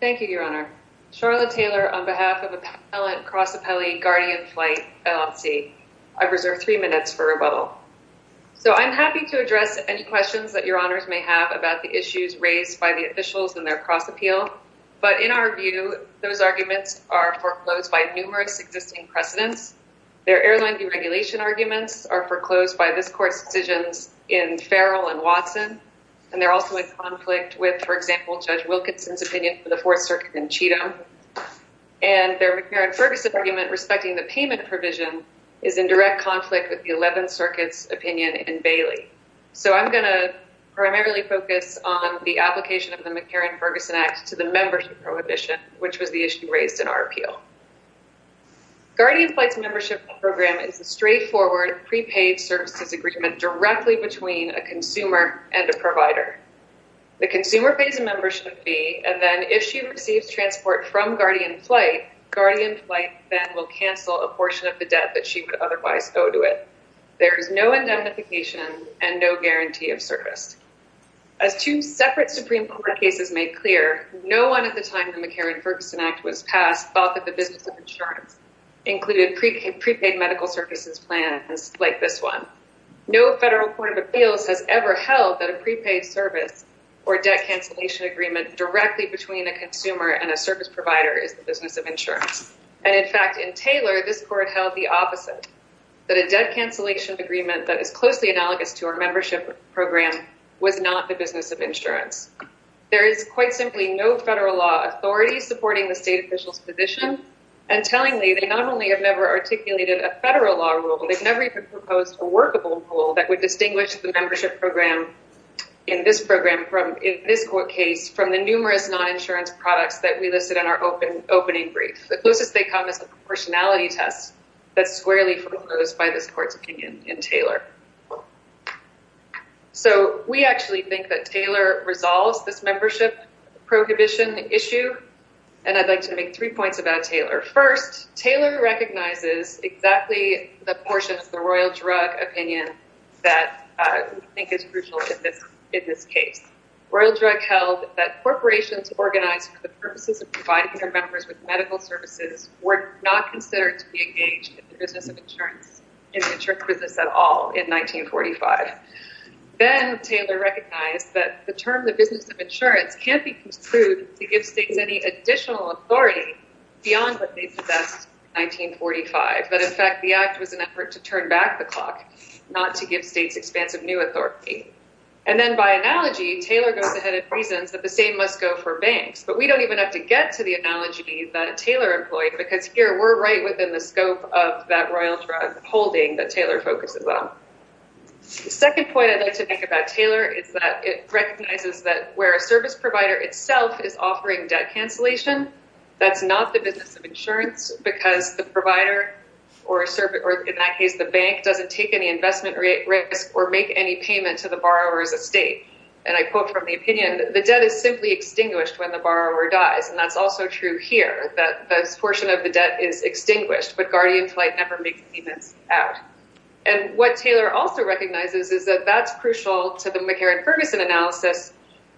Thank you, Your Honor. Charlotte Taylor on behalf of Appellant Cross Appellee Guardian Flight LLC. I've reserved three minutes for rebuttal. So I'm happy to address any questions that Your Honors may have about the issues raised by the officials in their cross appeal. But in our view, those arguments are foreclosed by numerous existing precedents. Their airline deregulation arguments are foreclosed by this court's decisions in Farrell and Watson. And they're also in conflict with, for example, Judge Wilkinson's opinion for the Fourth Circuit in Cheatham. And their McCarran-Ferguson argument respecting the payment provision is in direct conflict with the Eleventh Circuit's opinion in Bailey. So I'm going to primarily focus on the application of the McCarran-Ferguson Act to the membership prohibition, which was the issue raised in our appeal. Guardian Flight's membership program is a straightforward prepaid services agreement directly between a consumer and a provider. The consumer pays a membership fee, and then if she receives transport from Guardian Flight, Guardian Flight then will cancel a portion of the debt that she would otherwise owe to it. There is no indemnification and no guarantee of service. As two separate Supreme Court cases made clear, no one at the time the McCarran-Ferguson Act was passed thought that the business of insurance included prepaid medical services plans like this one. No federal court of appeals has ever held that a prepaid service or debt cancellation agreement directly between a consumer and a service provider is the business of insurance. And in fact, in Taylor, this court held the opposite, that a debt cancellation agreement that is closely analogous to our membership program was not the business of insurance. There is quite simply no federal law authority supporting the state official's position. And tellingly, they not only have never articulated a federal law rule, they've never even proposed a workable rule that would distinguish the membership program in this court case from the numerous non-insurance products that we listed in our opening brief. The closest they come is a proportionality test that's squarely foreclosed by this court's opinion in Taylor. So, we actually think that Taylor resolves this membership prohibition issue. And I'd like to make three points about Taylor. First, Taylor recognizes exactly the portion of the Royal Drug opinion that we think is crucial in this case. Royal Drug held that corporations organized for the purposes of providing their members with medical services were not considered to be engaged in the business of insurance, in the insurance business at all, in 1945. Then, Taylor recognized that the term the business of insurance can't be construed to give states any additional authority beyond what they possessed in 1945. But in fact, the act was an effort to turn back the clock, not to give states expansive new authority. And then, by analogy, Taylor goes ahead and reasons that the same must go for banks. But we don't even have to get to the analogy that Taylor employed, because here we're right within the scope of that Royal Drug holding that Taylor focuses on. The second point I'd like to make about Taylor is that it recognizes that where a service provider itself is offering debt cancellation, that's not the business of insurance, because the provider, or in that case the bank, doesn't take any investment risk or make any payment to the borrower as a state. And I quote from the opinion, the debt is simply extinguished when the borrower dies. And that's also true here, that this portion of the debt is extinguished, but Guardian Flight never makes payments out. And what Taylor also recognizes is that that's crucial to the McCarran-Ferguson analysis,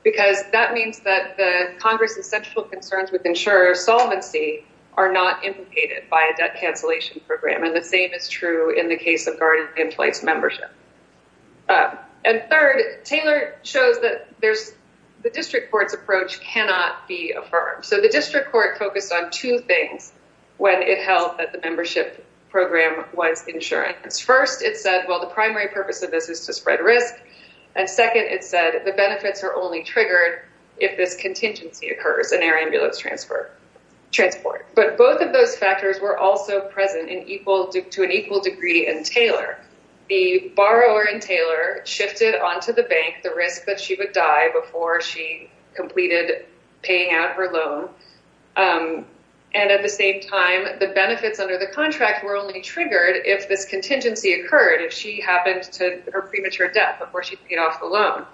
because that means that the Congress's central concerns with insurer solvency are not implicated by a debt cancellation program. And the same is true in the case of Guardian Flight's membership. And third, Taylor shows that the district court's approach cannot be affirmed. So the district court focused on two things when it held that the membership program was insurance. First, it said, well, the primary purpose of this is to spread risk. And second, it said the benefits are only triggered if this contingency occurs, an air ambulance transport. But both of those factors were also present to an equal degree in Taylor. The borrower in Taylor shifted onto the bank the risk that she would die before she completed paying out her loan. And at the same time, the benefits under the contract were only triggered if this contingency occurred, if she happened to her premature death before she paid off the loan.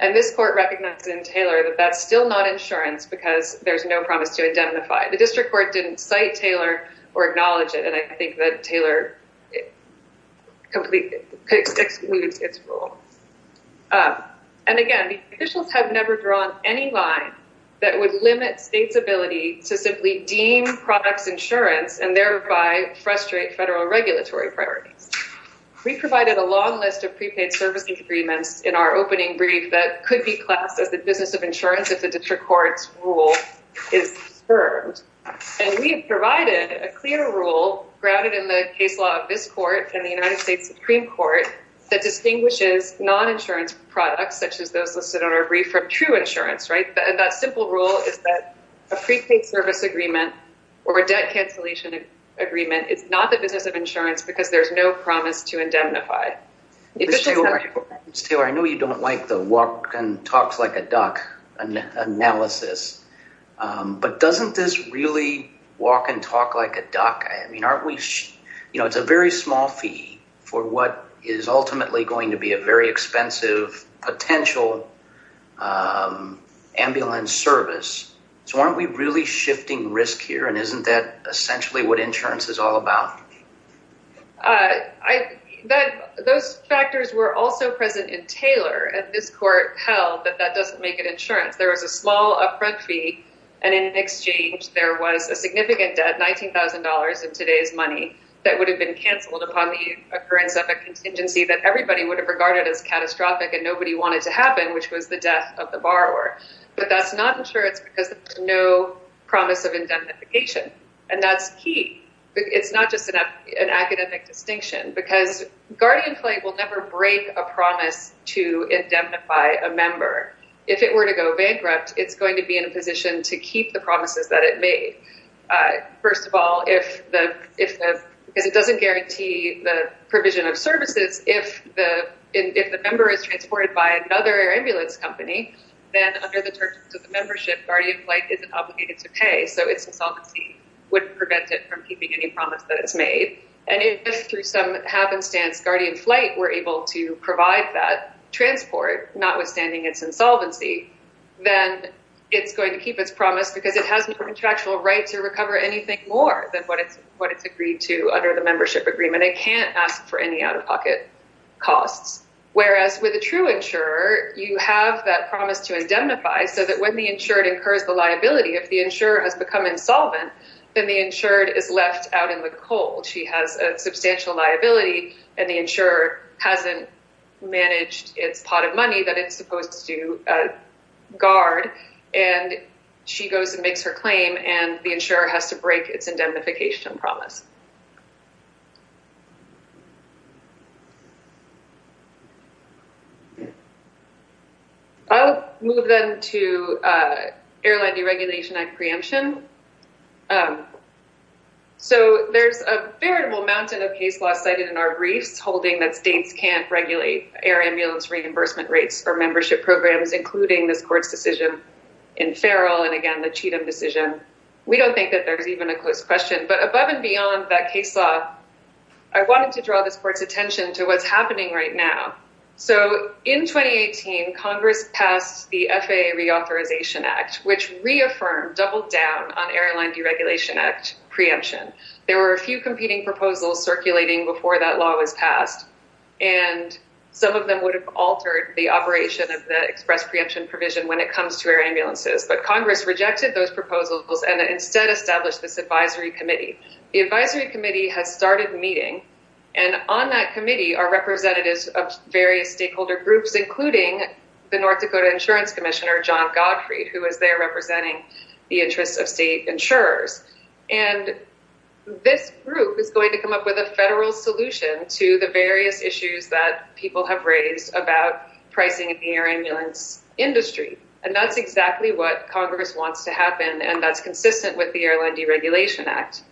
And this court recognized in Taylor that that's still not insurance because there's no promise to identify. The district court didn't cite Taylor or acknowledge it. And I think that Taylor completely excludes its rule. And, again, the officials have never drawn any line that would limit states' ability to simply deem products insurance and thereby frustrate federal regulatory priorities. We provided a long list of prepaid service agreements in our opening brief that could be classed as the business of insurance if the district court's rule is discerned. And we have provided a clear rule grounded in the case law of this court and the United States Supreme Court that distinguishes non-insurance products, such as those listed on our brief, from true insurance. That simple rule is that a prepaid service agreement or a debt cancellation agreement is not the business of insurance because there's no promise to indemnify. Ms. Taylor, I know you don't like the walk and talk like a duck analysis, but doesn't this really walk and talk like a duck? I mean, it's a very small fee for what is ultimately going to be a very expensive potential ambulance service. So aren't we really shifting risk here? And isn't that essentially what insurance is all about? Those factors were also present in Taylor, and this court held that that doesn't make it insurance. There was a small upfront fee, and in exchange there was a significant debt, $19,000 in today's money, that would have been canceled upon the occurrence of a contingency that everybody would have regarded as catastrophic and nobody wanted to happen, which was the death of the borrower. But that's not insurance because there's no promise of indemnification, and that's key. It's not just an academic distinction because Guardian Flight will never break a promise to indemnify a member. If it were to go bankrupt, it's going to be in a position to keep the promises that it made. First of all, because it doesn't guarantee the provision of services, if the member is transported by another ambulance company, then under the terms of the membership, Guardian Flight isn't obligated to pay, so its insolvency wouldn't prevent it from keeping any promise that it's made. And if, through some happenstance, Guardian Flight were able to provide that transport, notwithstanding its insolvency, then it's going to keep its promise because it has no contractual right to recover anything more than what it's agreed to under the membership agreement. It can't ask for any out-of-pocket costs. Whereas with a true insurer, you have that promise to indemnify so that when the insured incurs the liability, if the insurer has become insolvent, then the insured is left out in the cold. She has a substantial liability, and the insurer hasn't managed its pot of money that it's supposed to guard, and she goes and makes her claim, and the insurer has to break its indemnification promise. I'll move then to Airline Deregulation Act preemption. So there's a veritable mountain of case law cited in our briefs holding that states can't regulate air ambulance reimbursement rates for membership programs, including this court's decision in Farrell and, again, the Cheatham decision. We don't think that there's even a close question. But above and beyond that case law, I wanted to draw this court's attention to what's happening right now. So in 2018, Congress passed the FAA Reauthorization Act, which reaffirmed, doubled down on Airline Deregulation Act preemption. There were a few competing proposals circulating before that law was passed, and some of them would have altered the operation of the express preemption provision when it comes to air ambulances. But Congress rejected those proposals and instead established this advisory committee. The advisory committee has started meeting, and on that committee are representatives of various stakeholder groups, including the North Dakota Insurance Commissioner, John Gottfried, who is there representing the interests of state insurers. And this group is going to come up with a federal solution to the various issues that people have raised about pricing in the air ambulance industry. And that's exactly what Congress wants to happen, and that's consistent with the Airline Deregulation Act.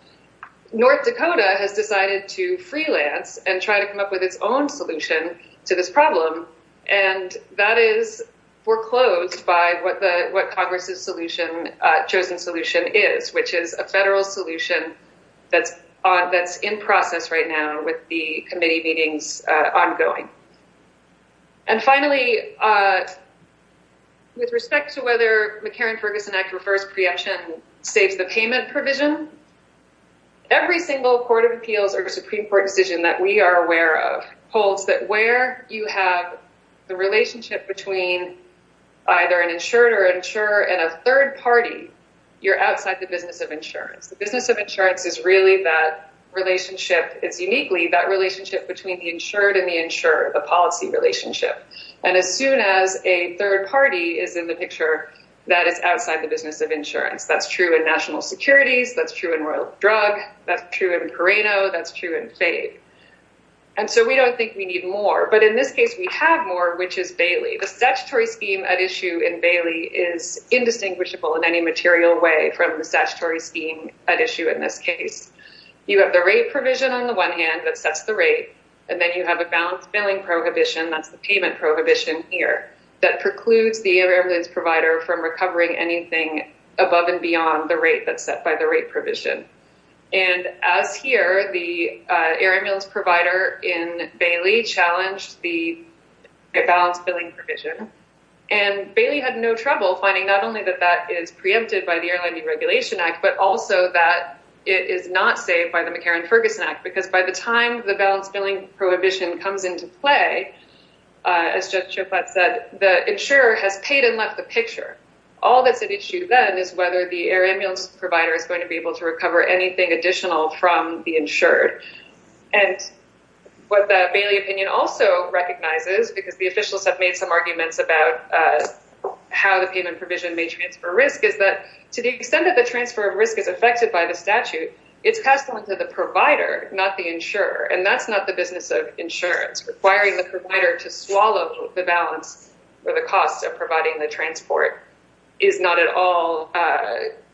North Dakota has decided to freelance and try to come up with its own solution to this problem, and that is foreclosed by what Congress's chosen solution is, which is a federal solution that's in process right now with the committee meetings ongoing. And finally, with respect to whether the McCarran-Ferguson Act refers preemption saves the payment provision, every single court of appeals or Supreme Court decision that we are aware of holds that where you have the relationship between either an insured or insurer and a third party, you're outside the business of insurance. The business of insurance is really that relationship, it's uniquely that relationship between the insured and the insurer, the policy relationship. And as soon as a third party is in the picture, that is outside the business of insurance. That's true in national securities, that's true in Royal Drug, that's true in Pareto, that's true in FAFE. And so we don't think we need more. But in this case, we have more, which is Bailey. The statutory scheme at issue in Bailey is indistinguishable in any material way from the statutory scheme at issue in this case. You have the rate provision on the one hand that sets the rate, and then you have a balance billing prohibition, that's the payment prohibition here, that precludes the air ambulance provider from recovering anything above and beyond the rate that's set by the rate provision. And as here, the air ambulance provider in Bailey challenged the balance billing provision. And Bailey had no trouble finding not only that that is preempted by the Airline Deregulation Act, but also that it is not saved by the McCarran-Ferguson Act. Because by the time the balance billing prohibition comes into play, as Judge Schoflat said, the insurer has paid and left the picture. All that's at issue then is whether the air ambulance provider is going to be able to recover anything additional from the insured. And what the Bailey opinion also recognizes, because the officials have made some arguments about how the payment provision may transfer risk, is that to the extent that the transfer of risk is affected by the statute, it's passed on to the provider, not the insurer. And that's not the business of insurance. Requiring the provider to swallow the balance or the cost of providing the transport is not at all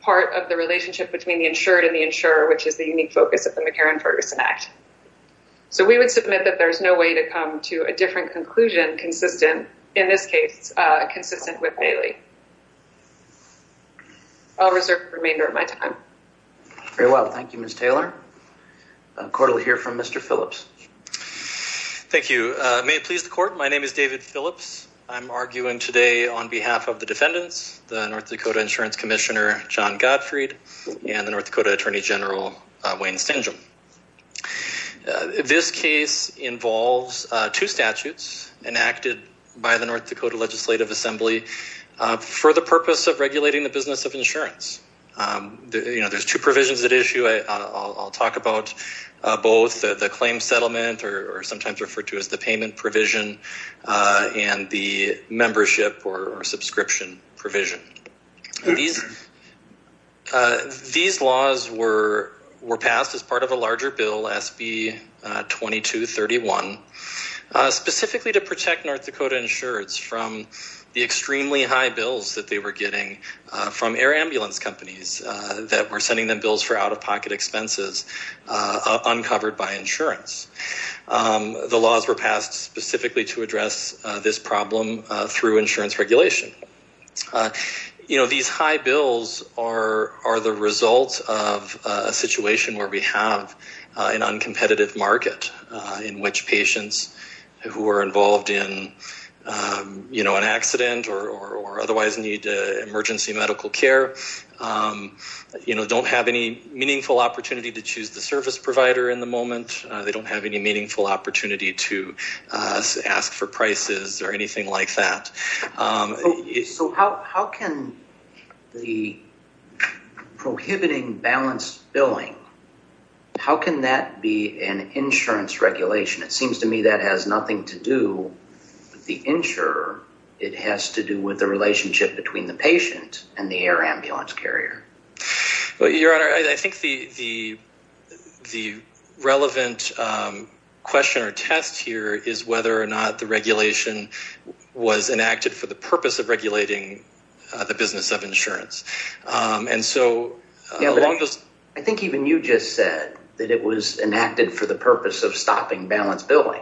part of the relationship between the insured and the insurer, which is the unique focus of the McCarran-Ferguson Act. So we would submit that there's no way to come to a different conclusion consistent, in this case, consistent with Bailey. I'll reserve the remainder of my time. Very well. Thank you, Ms. Taylor. Court will hear from Mr. Phillips. Thank you. May it please the court. My name is David Phillips. I'm arguing today on behalf of the defendants, the North Dakota Insurance Commissioner, John Gottfried, and the North Dakota Attorney General, Wayne Stangel. This case involves two statutes enacted by the North Dakota Legislative Assembly for the purpose of regulating the business of insurance. There's two provisions at issue. I'll talk about both the claim settlement, or sometimes referred to as the payment provision, and the membership or subscription provision. These laws were passed as part of a larger bill, SB 2231, specifically to protect North Dakota insureds from the extremely high bills that they were getting from air ambulance companies that were sending them bills for out-of-pocket expenses uncovered by insurance. The laws were passed specifically to address this problem through insurance regulation. These high bills are the result of a situation where we have an uncompetitive market in which patients who are involved in an accident or otherwise need emergency medical care don't have any meaningful opportunity to choose the service provider in the moment. They don't have any meaningful opportunity to ask for prices or anything like that. So how can the prohibiting balanced billing, how can that be an insurance regulation? It seems to me that has nothing to do with the insurer. It has to do with the relationship between the patient and the air ambulance carrier. Your Honor, I think the relevant question or test here is whether or not the regulation was enacted for the purpose of regulating the business of insurance. I think even you just said that it was enacted for the purpose of stopping balanced billing.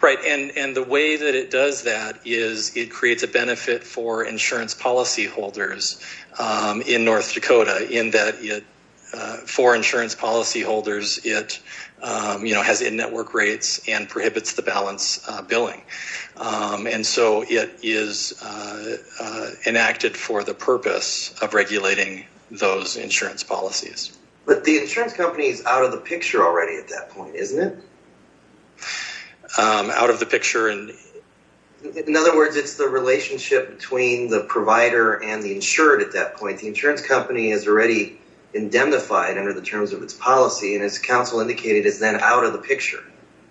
Right. And the way that it does that is it creates a benefit for insurance policyholders in North Dakota in that for insurance policyholders, it has in-network rates and prohibits the balanced billing. And so it is enacted for the purpose of regulating those insurance policies. But the insurance company is out of the picture already at that point, isn't it? Out of the picture? In other words, it's the relationship between the provider and the insured at that point. The insurance company is already indemnified under the terms of its policy and as counsel indicated is then out of the picture.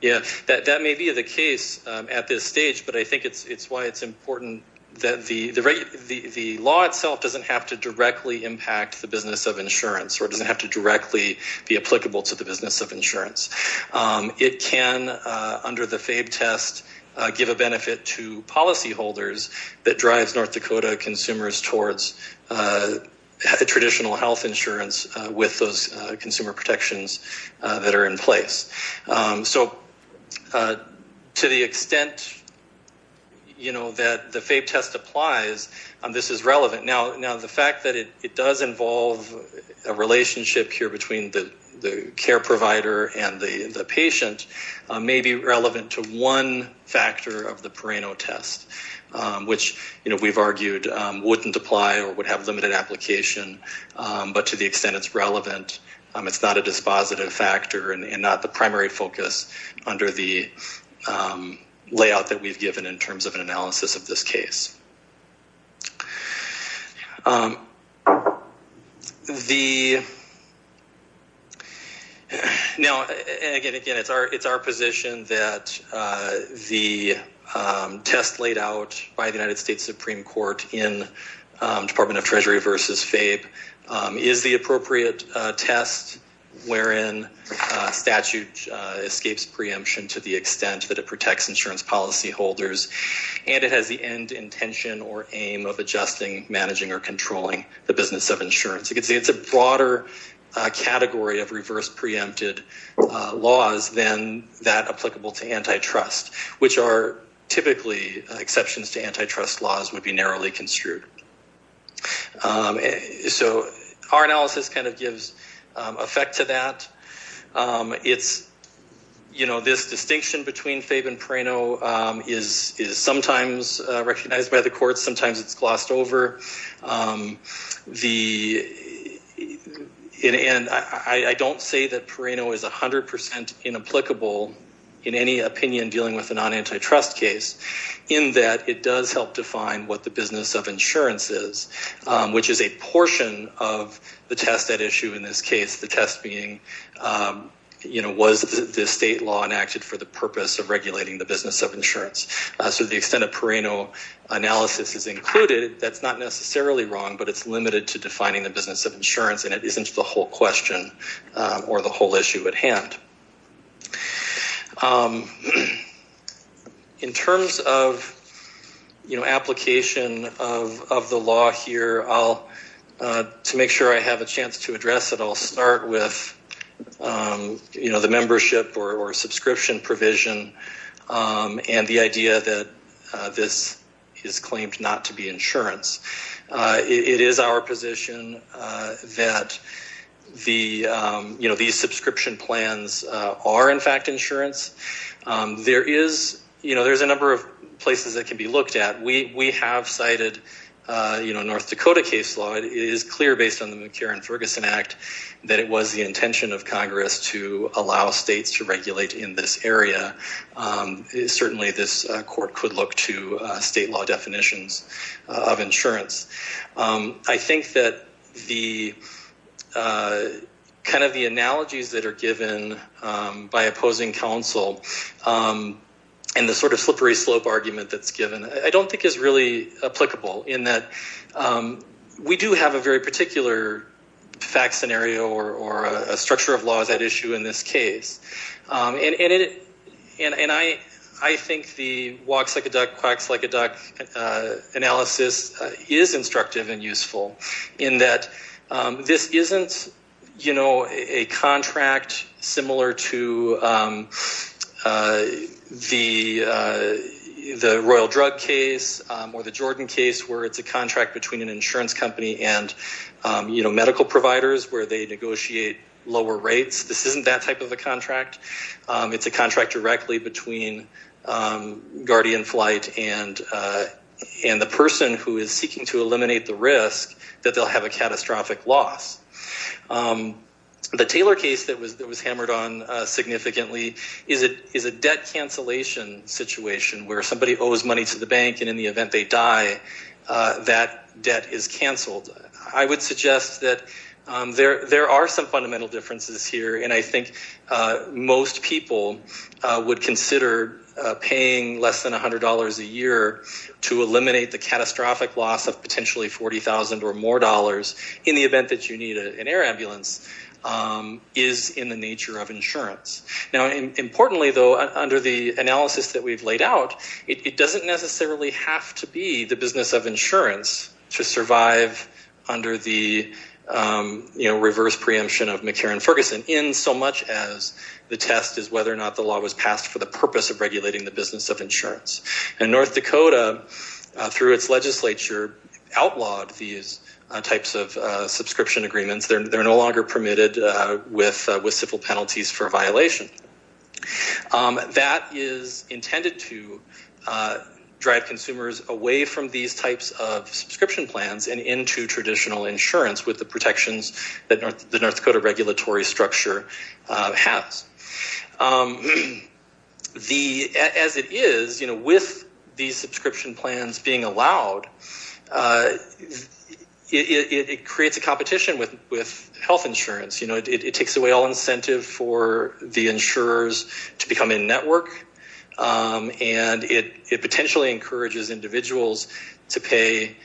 Yeah, that may be the case at this stage, but I think it's why it's important that the law itself doesn't have to directly impact the business of insurance or doesn't have to directly be applicable to the business of insurance. It can, under the FABE test, give a benefit to policyholders that drives North Dakota consumers towards traditional health insurance with those consumer protections that are in place. So to the extent that the FABE test applies, this is relevant. Now, the fact that it does involve a relationship here between the care provider and the patient may be relevant to one factor of the Pereno test, which we've argued wouldn't apply or would have limited application. But to the extent it's relevant, it's not a dispositive factor and not the primary focus under the layout that we've given in terms of an analysis of this case. Now, again, it's our position that the test laid out by the United States Supreme Court in Department of Treasury versus FABE is the appropriate test wherein statute escapes preemption to the extent that it protects insurance policyholders. And it has the end intention or aim of adjusting, managing, or controlling the business of insurance. You can see it's a broader category of reverse preempted laws than that applicable to antitrust, which are typically exceptions to antitrust laws would be narrowly construed. So our analysis kind of gives effect to that. It's, you know, this distinction between FABE and Pereno is sometimes recognized by the courts. Sometimes it's glossed over. And I don't say that Pereno is 100% inapplicable in any opinion dealing with a non-antitrust case in that it does help define what the business of insurance is, which is a portion of the test at issue in this case. The test being, you know, was the state law enacted for the purpose of regulating the business of insurance? So the extent of Pereno analysis is included. That's not necessarily wrong, but it's limited to defining the business of insurance, and it isn't the whole question or the whole issue at hand. In terms of, you know, application of the law here, to make sure I have a chance to address it, I'll start with, you know, the membership or subscription provision and the idea that this is claimed not to be insurance. It is our position that the, you know, these subscription plans are, in fact, insurance. There is, you know, there's a number of places that can be looked at. We have cited, you know, North Dakota case law. It is clear based on the McCarran-Ferguson Act that it was the intention of Congress to allow states to regulate in this area. Certainly, this court could look to state law definitions of insurance. I think that the kind of the analogies that are given by opposing counsel and the sort of slippery slope argument that's given, I don't think is really applicable in that we do have a very particular fact scenario or a structure of law at issue in this case. And I think the walks like a duck, quacks like a duck analysis is instructive and useful in that this isn't, you know, a contract similar to the Royal Drug case or the Jordan case where it's a contract between an insurance company and, you know, medical providers where they negotiate lower rates. This isn't that type of a contract. It's a contract directly between Guardian Flight and the person who is seeking to eliminate the risk that they'll have a catastrophic loss. The Taylor case that was hammered on significantly is a debt cancellation situation where somebody owes money to the bank and in the event they die, that debt is canceled. I would suggest that there are some fundamental differences here and I think most people would consider paying less than $100 a year to eliminate the catastrophic loss of potentially $40,000 or more in the event that you need an air ambulance is in the nature of insurance. Importantly, though, under the analysis that we've laid out, it doesn't necessarily have to be the business of insurance to survive under the reverse preemption of McCarran Ferguson in so much as the test is whether or not the law was passed for the purpose of regulating the business of insurance. And North Dakota, through its legislature, outlawed these types of subscription agreements. They're no longer permitted with civil penalties for violation. That is intended to drive consumers away from these types of subscription plans and into traditional insurance with the protections that the North Dakota regulatory structure has. As it is, with these subscription plans being allowed, it creates a competition with health insurance. It takes away all incentive for the insurers to become in network and it potentially encourages individuals to pay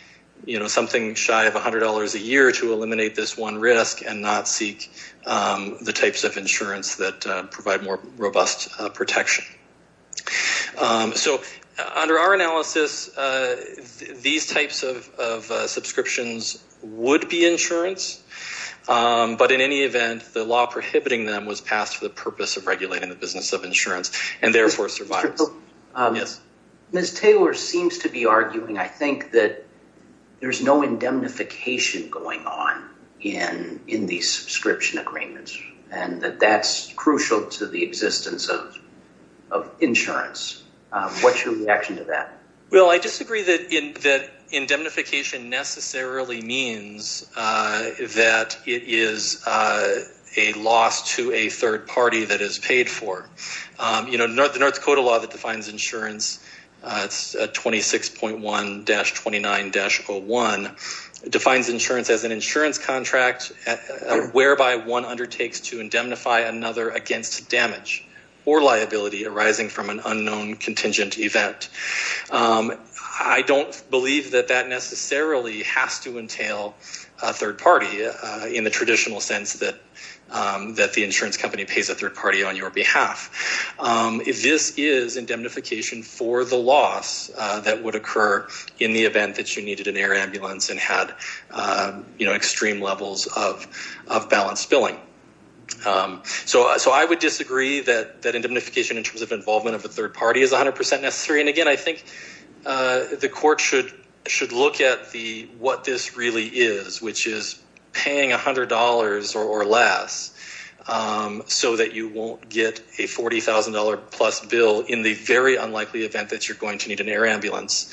something shy of $100 a year to eliminate this one risk and not seek the types of insurance that provide more robust protection. So under our analysis, these types of subscriptions would be insurance. But in any event, the law prohibiting them was passed for the purpose of regulating the business of insurance and therefore survival. Ms. Taylor seems to be arguing, I think, that there's no indemnification going on in these subscription agreements and that that's crucial to the existence of insurance. What's your reaction to that? Well, I disagree that indemnification necessarily means that it is a loss to a third party that is paid for. The North Dakota law that defines insurance, 26.1-29-01, defines insurance as an insurance contract whereby one undertakes to indemnify another against damage or liability arising from an unknown contingent event. I don't believe that that necessarily has to entail a third party in the traditional sense that the insurance company pays a third party on your behalf. This is indemnification for the loss that would occur in the event that you needed an air ambulance and had extreme levels of balance billing. So I would disagree that indemnification in terms of involvement of a third party is 100% necessary. And again, I think the court should look at what this really is, which is paying $100 or less so that you won't get a $40,000 plus bill in the very unlikely event that you're going to need an air ambulance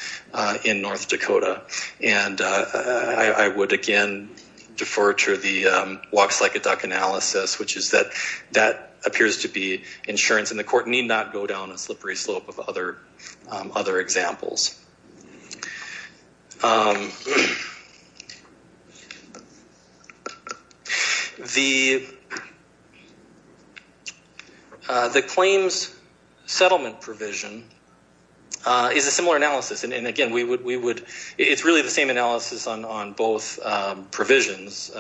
in North Dakota. And I would again defer to the walks like a duck analysis, which is that that appears to be insurance and the court need not go down a slippery slope of other examples. The claims settlement provision is a similar analysis, and again, it's really the same analysis on both provisions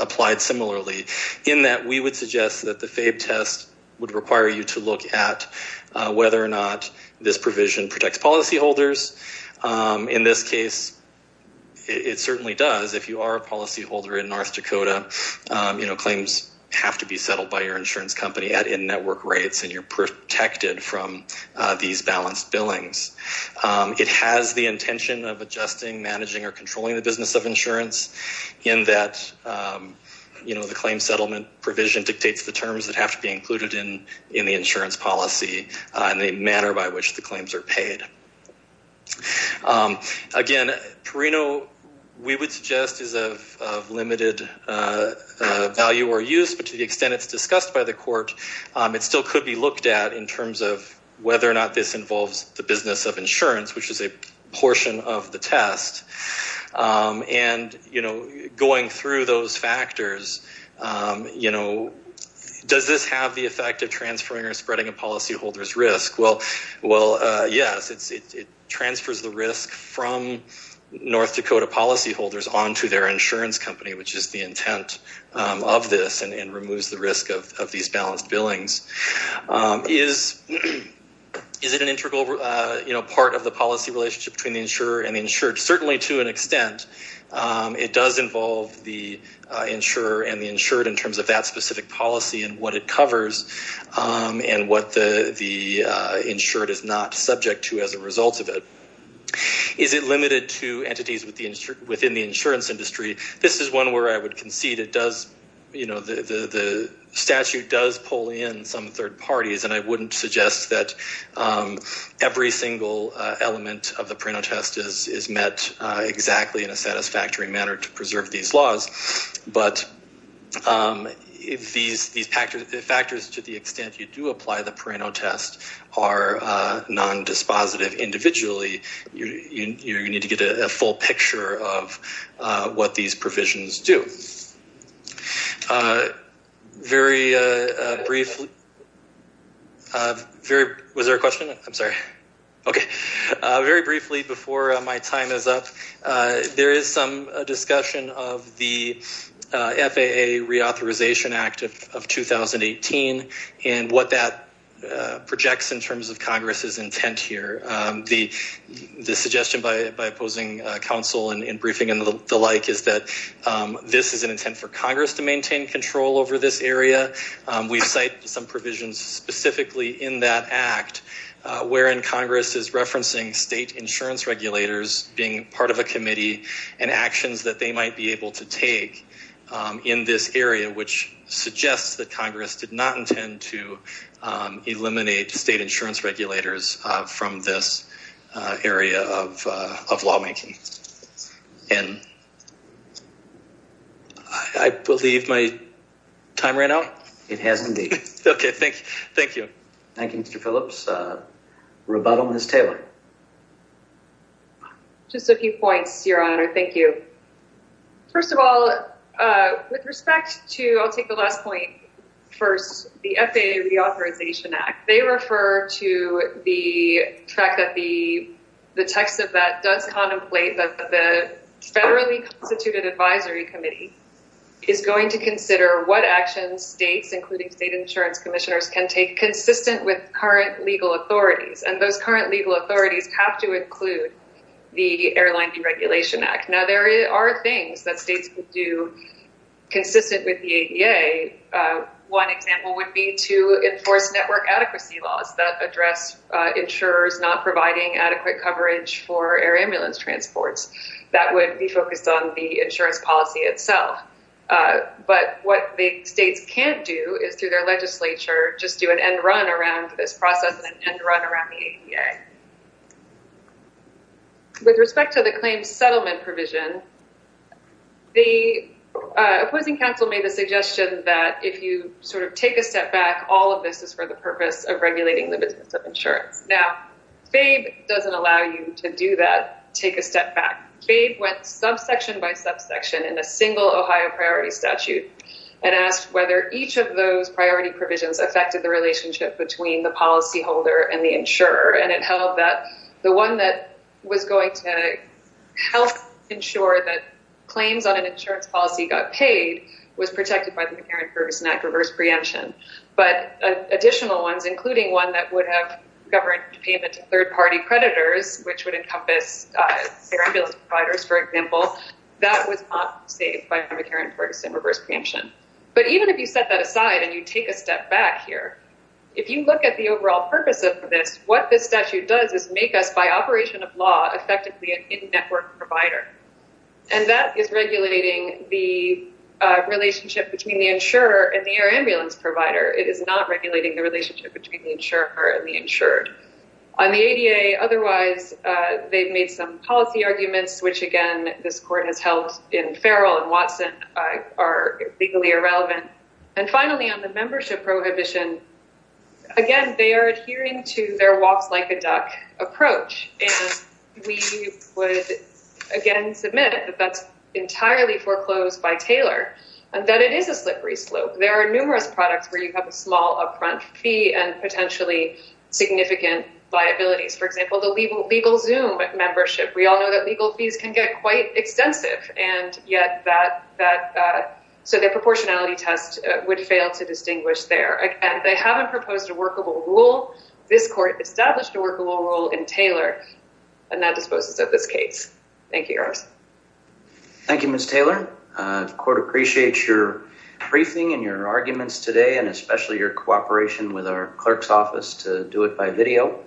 applied similarly. In that we would suggest that the FABE test would require you to look at whether or not this provision protects policyholders. In this case, it certainly does. If you are a policyholder in North Dakota, claims have to be settled by your insurance company at in-network rates, and you're protected from these balanced billings. It has the intention of adjusting, managing, or controlling the business of insurance in that, you know, the claim settlement provision dictates the terms that have to be included in the insurance policy and the manner by which the claims are paid. Again, Perino, we would suggest is of limited value or use, but to the extent it's discussed by the court, it still could be looked at in terms of whether or not this involves the business of insurance, which is a portion of the test. And, you know, going through those factors, you know, does this have the effect of transferring or spreading a policyholder's risk? Well, yes, it transfers the risk from North Dakota policyholders onto their insurance company, which is the intent of this and removes the risk of these balanced billings. Is it an integral, you know, part of the policy relationship between the insurer and the insured? Is it limited to entities within the insurance industry? This is one where I would concede it does, you know, the statute does pull in some third parties, and I wouldn't suggest that every single element of the Perino test is met exactly in a satisfactory manner to preserve these laws. But if these factors, to the extent you do apply the Perino test, are nondispositive individually, you need to get a full picture of what these provisions do. Very briefly, was there a question? I'm sorry. Okay. Very briefly, before my time is up, there is some discussion of the FAA Reauthorization Act of 2018 and what that projects in terms of Congress's intent here. The suggestion by opposing counsel in briefing and the like is that this is an intent for Congress to maintain control over this area. We cite some provisions specifically in that act wherein Congress is referencing state insurance regulators being part of a committee and actions that they might be able to take in this area, which suggests that Congress did not intend to eliminate state insurance regulators from this area of lawmaking. And I believe my time ran out. It has indeed. Okay, thank you. Thank you. Thank you, Mr. Phillips. Rebuttal, Ms. Taylor. Just a few points, Your Honor. Thank you. First of all, with respect to, I'll take the last point first, the FAA Reauthorization Act, they refer to the fact that the text of that does contemplate that the federally constituted advisory committee is going to consider what actions states, including state insurance commissioners, can take consistent with current legal authorities. And those current legal authorities have to include the Airline Deregulation Act. Now, there are things that states would do consistent with the ADA. One example would be to enforce network adequacy laws that address insurers not providing adequate coverage for air ambulance transports. That would be focused on the insurance policy itself. But what the states can't do is through their legislature, just do an end run around this process and run around the ADA. With respect to the claims settlement provision, the opposing counsel made the suggestion that if you sort of take a step back, all of this is for the purpose of regulating the business of insurance. Now, FABE doesn't allow you to do that, take a step back. FABE went subsection by subsection in a single Ohio priority statute and asked whether each of those priority provisions affected the relationship between the policyholder and the insurer. And it held that the one that was going to help ensure that claims on an insurance policy got paid was protected by the McCarran-Ferguson Act reverse preemption. But additional ones, including one that would have governed payment to third-party creditors, which would encompass air ambulance providers, for example, that was not saved by the McCarran-Ferguson reverse preemption. But even if you set that aside and you take a step back here, if you look at the overall purpose of this, what this statute does is make us by operation of law effectively an in-network provider. And that is regulating the relationship between the insurer and the air ambulance provider. It is not regulating the relationship between the insurer and the insured. On the ADA, otherwise, they've made some policy arguments, which, again, this court has held in Farrell and Watson are legally irrelevant. And finally, on the membership prohibition, again, they are adhering to their walks like a duck approach. And we would, again, submit that that's entirely foreclosed by Taylor and that it is a slippery slope. There are numerous products where you have a small upfront fee and potentially significant liabilities. For example, the legal Zoom membership. We all know that legal fees can get quite extensive. And yet that so the proportionality test would fail to distinguish there. Again, they haven't proposed a workable rule. This court established a workable rule in Taylor. And that disposes of this case. Thank you. Thank you, Ms. Taylor. Court appreciates your briefing and your arguments today and especially your cooperation with our clerk's office to do it by video.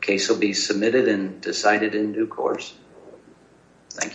Case will be submitted and decided in due course. Thank you.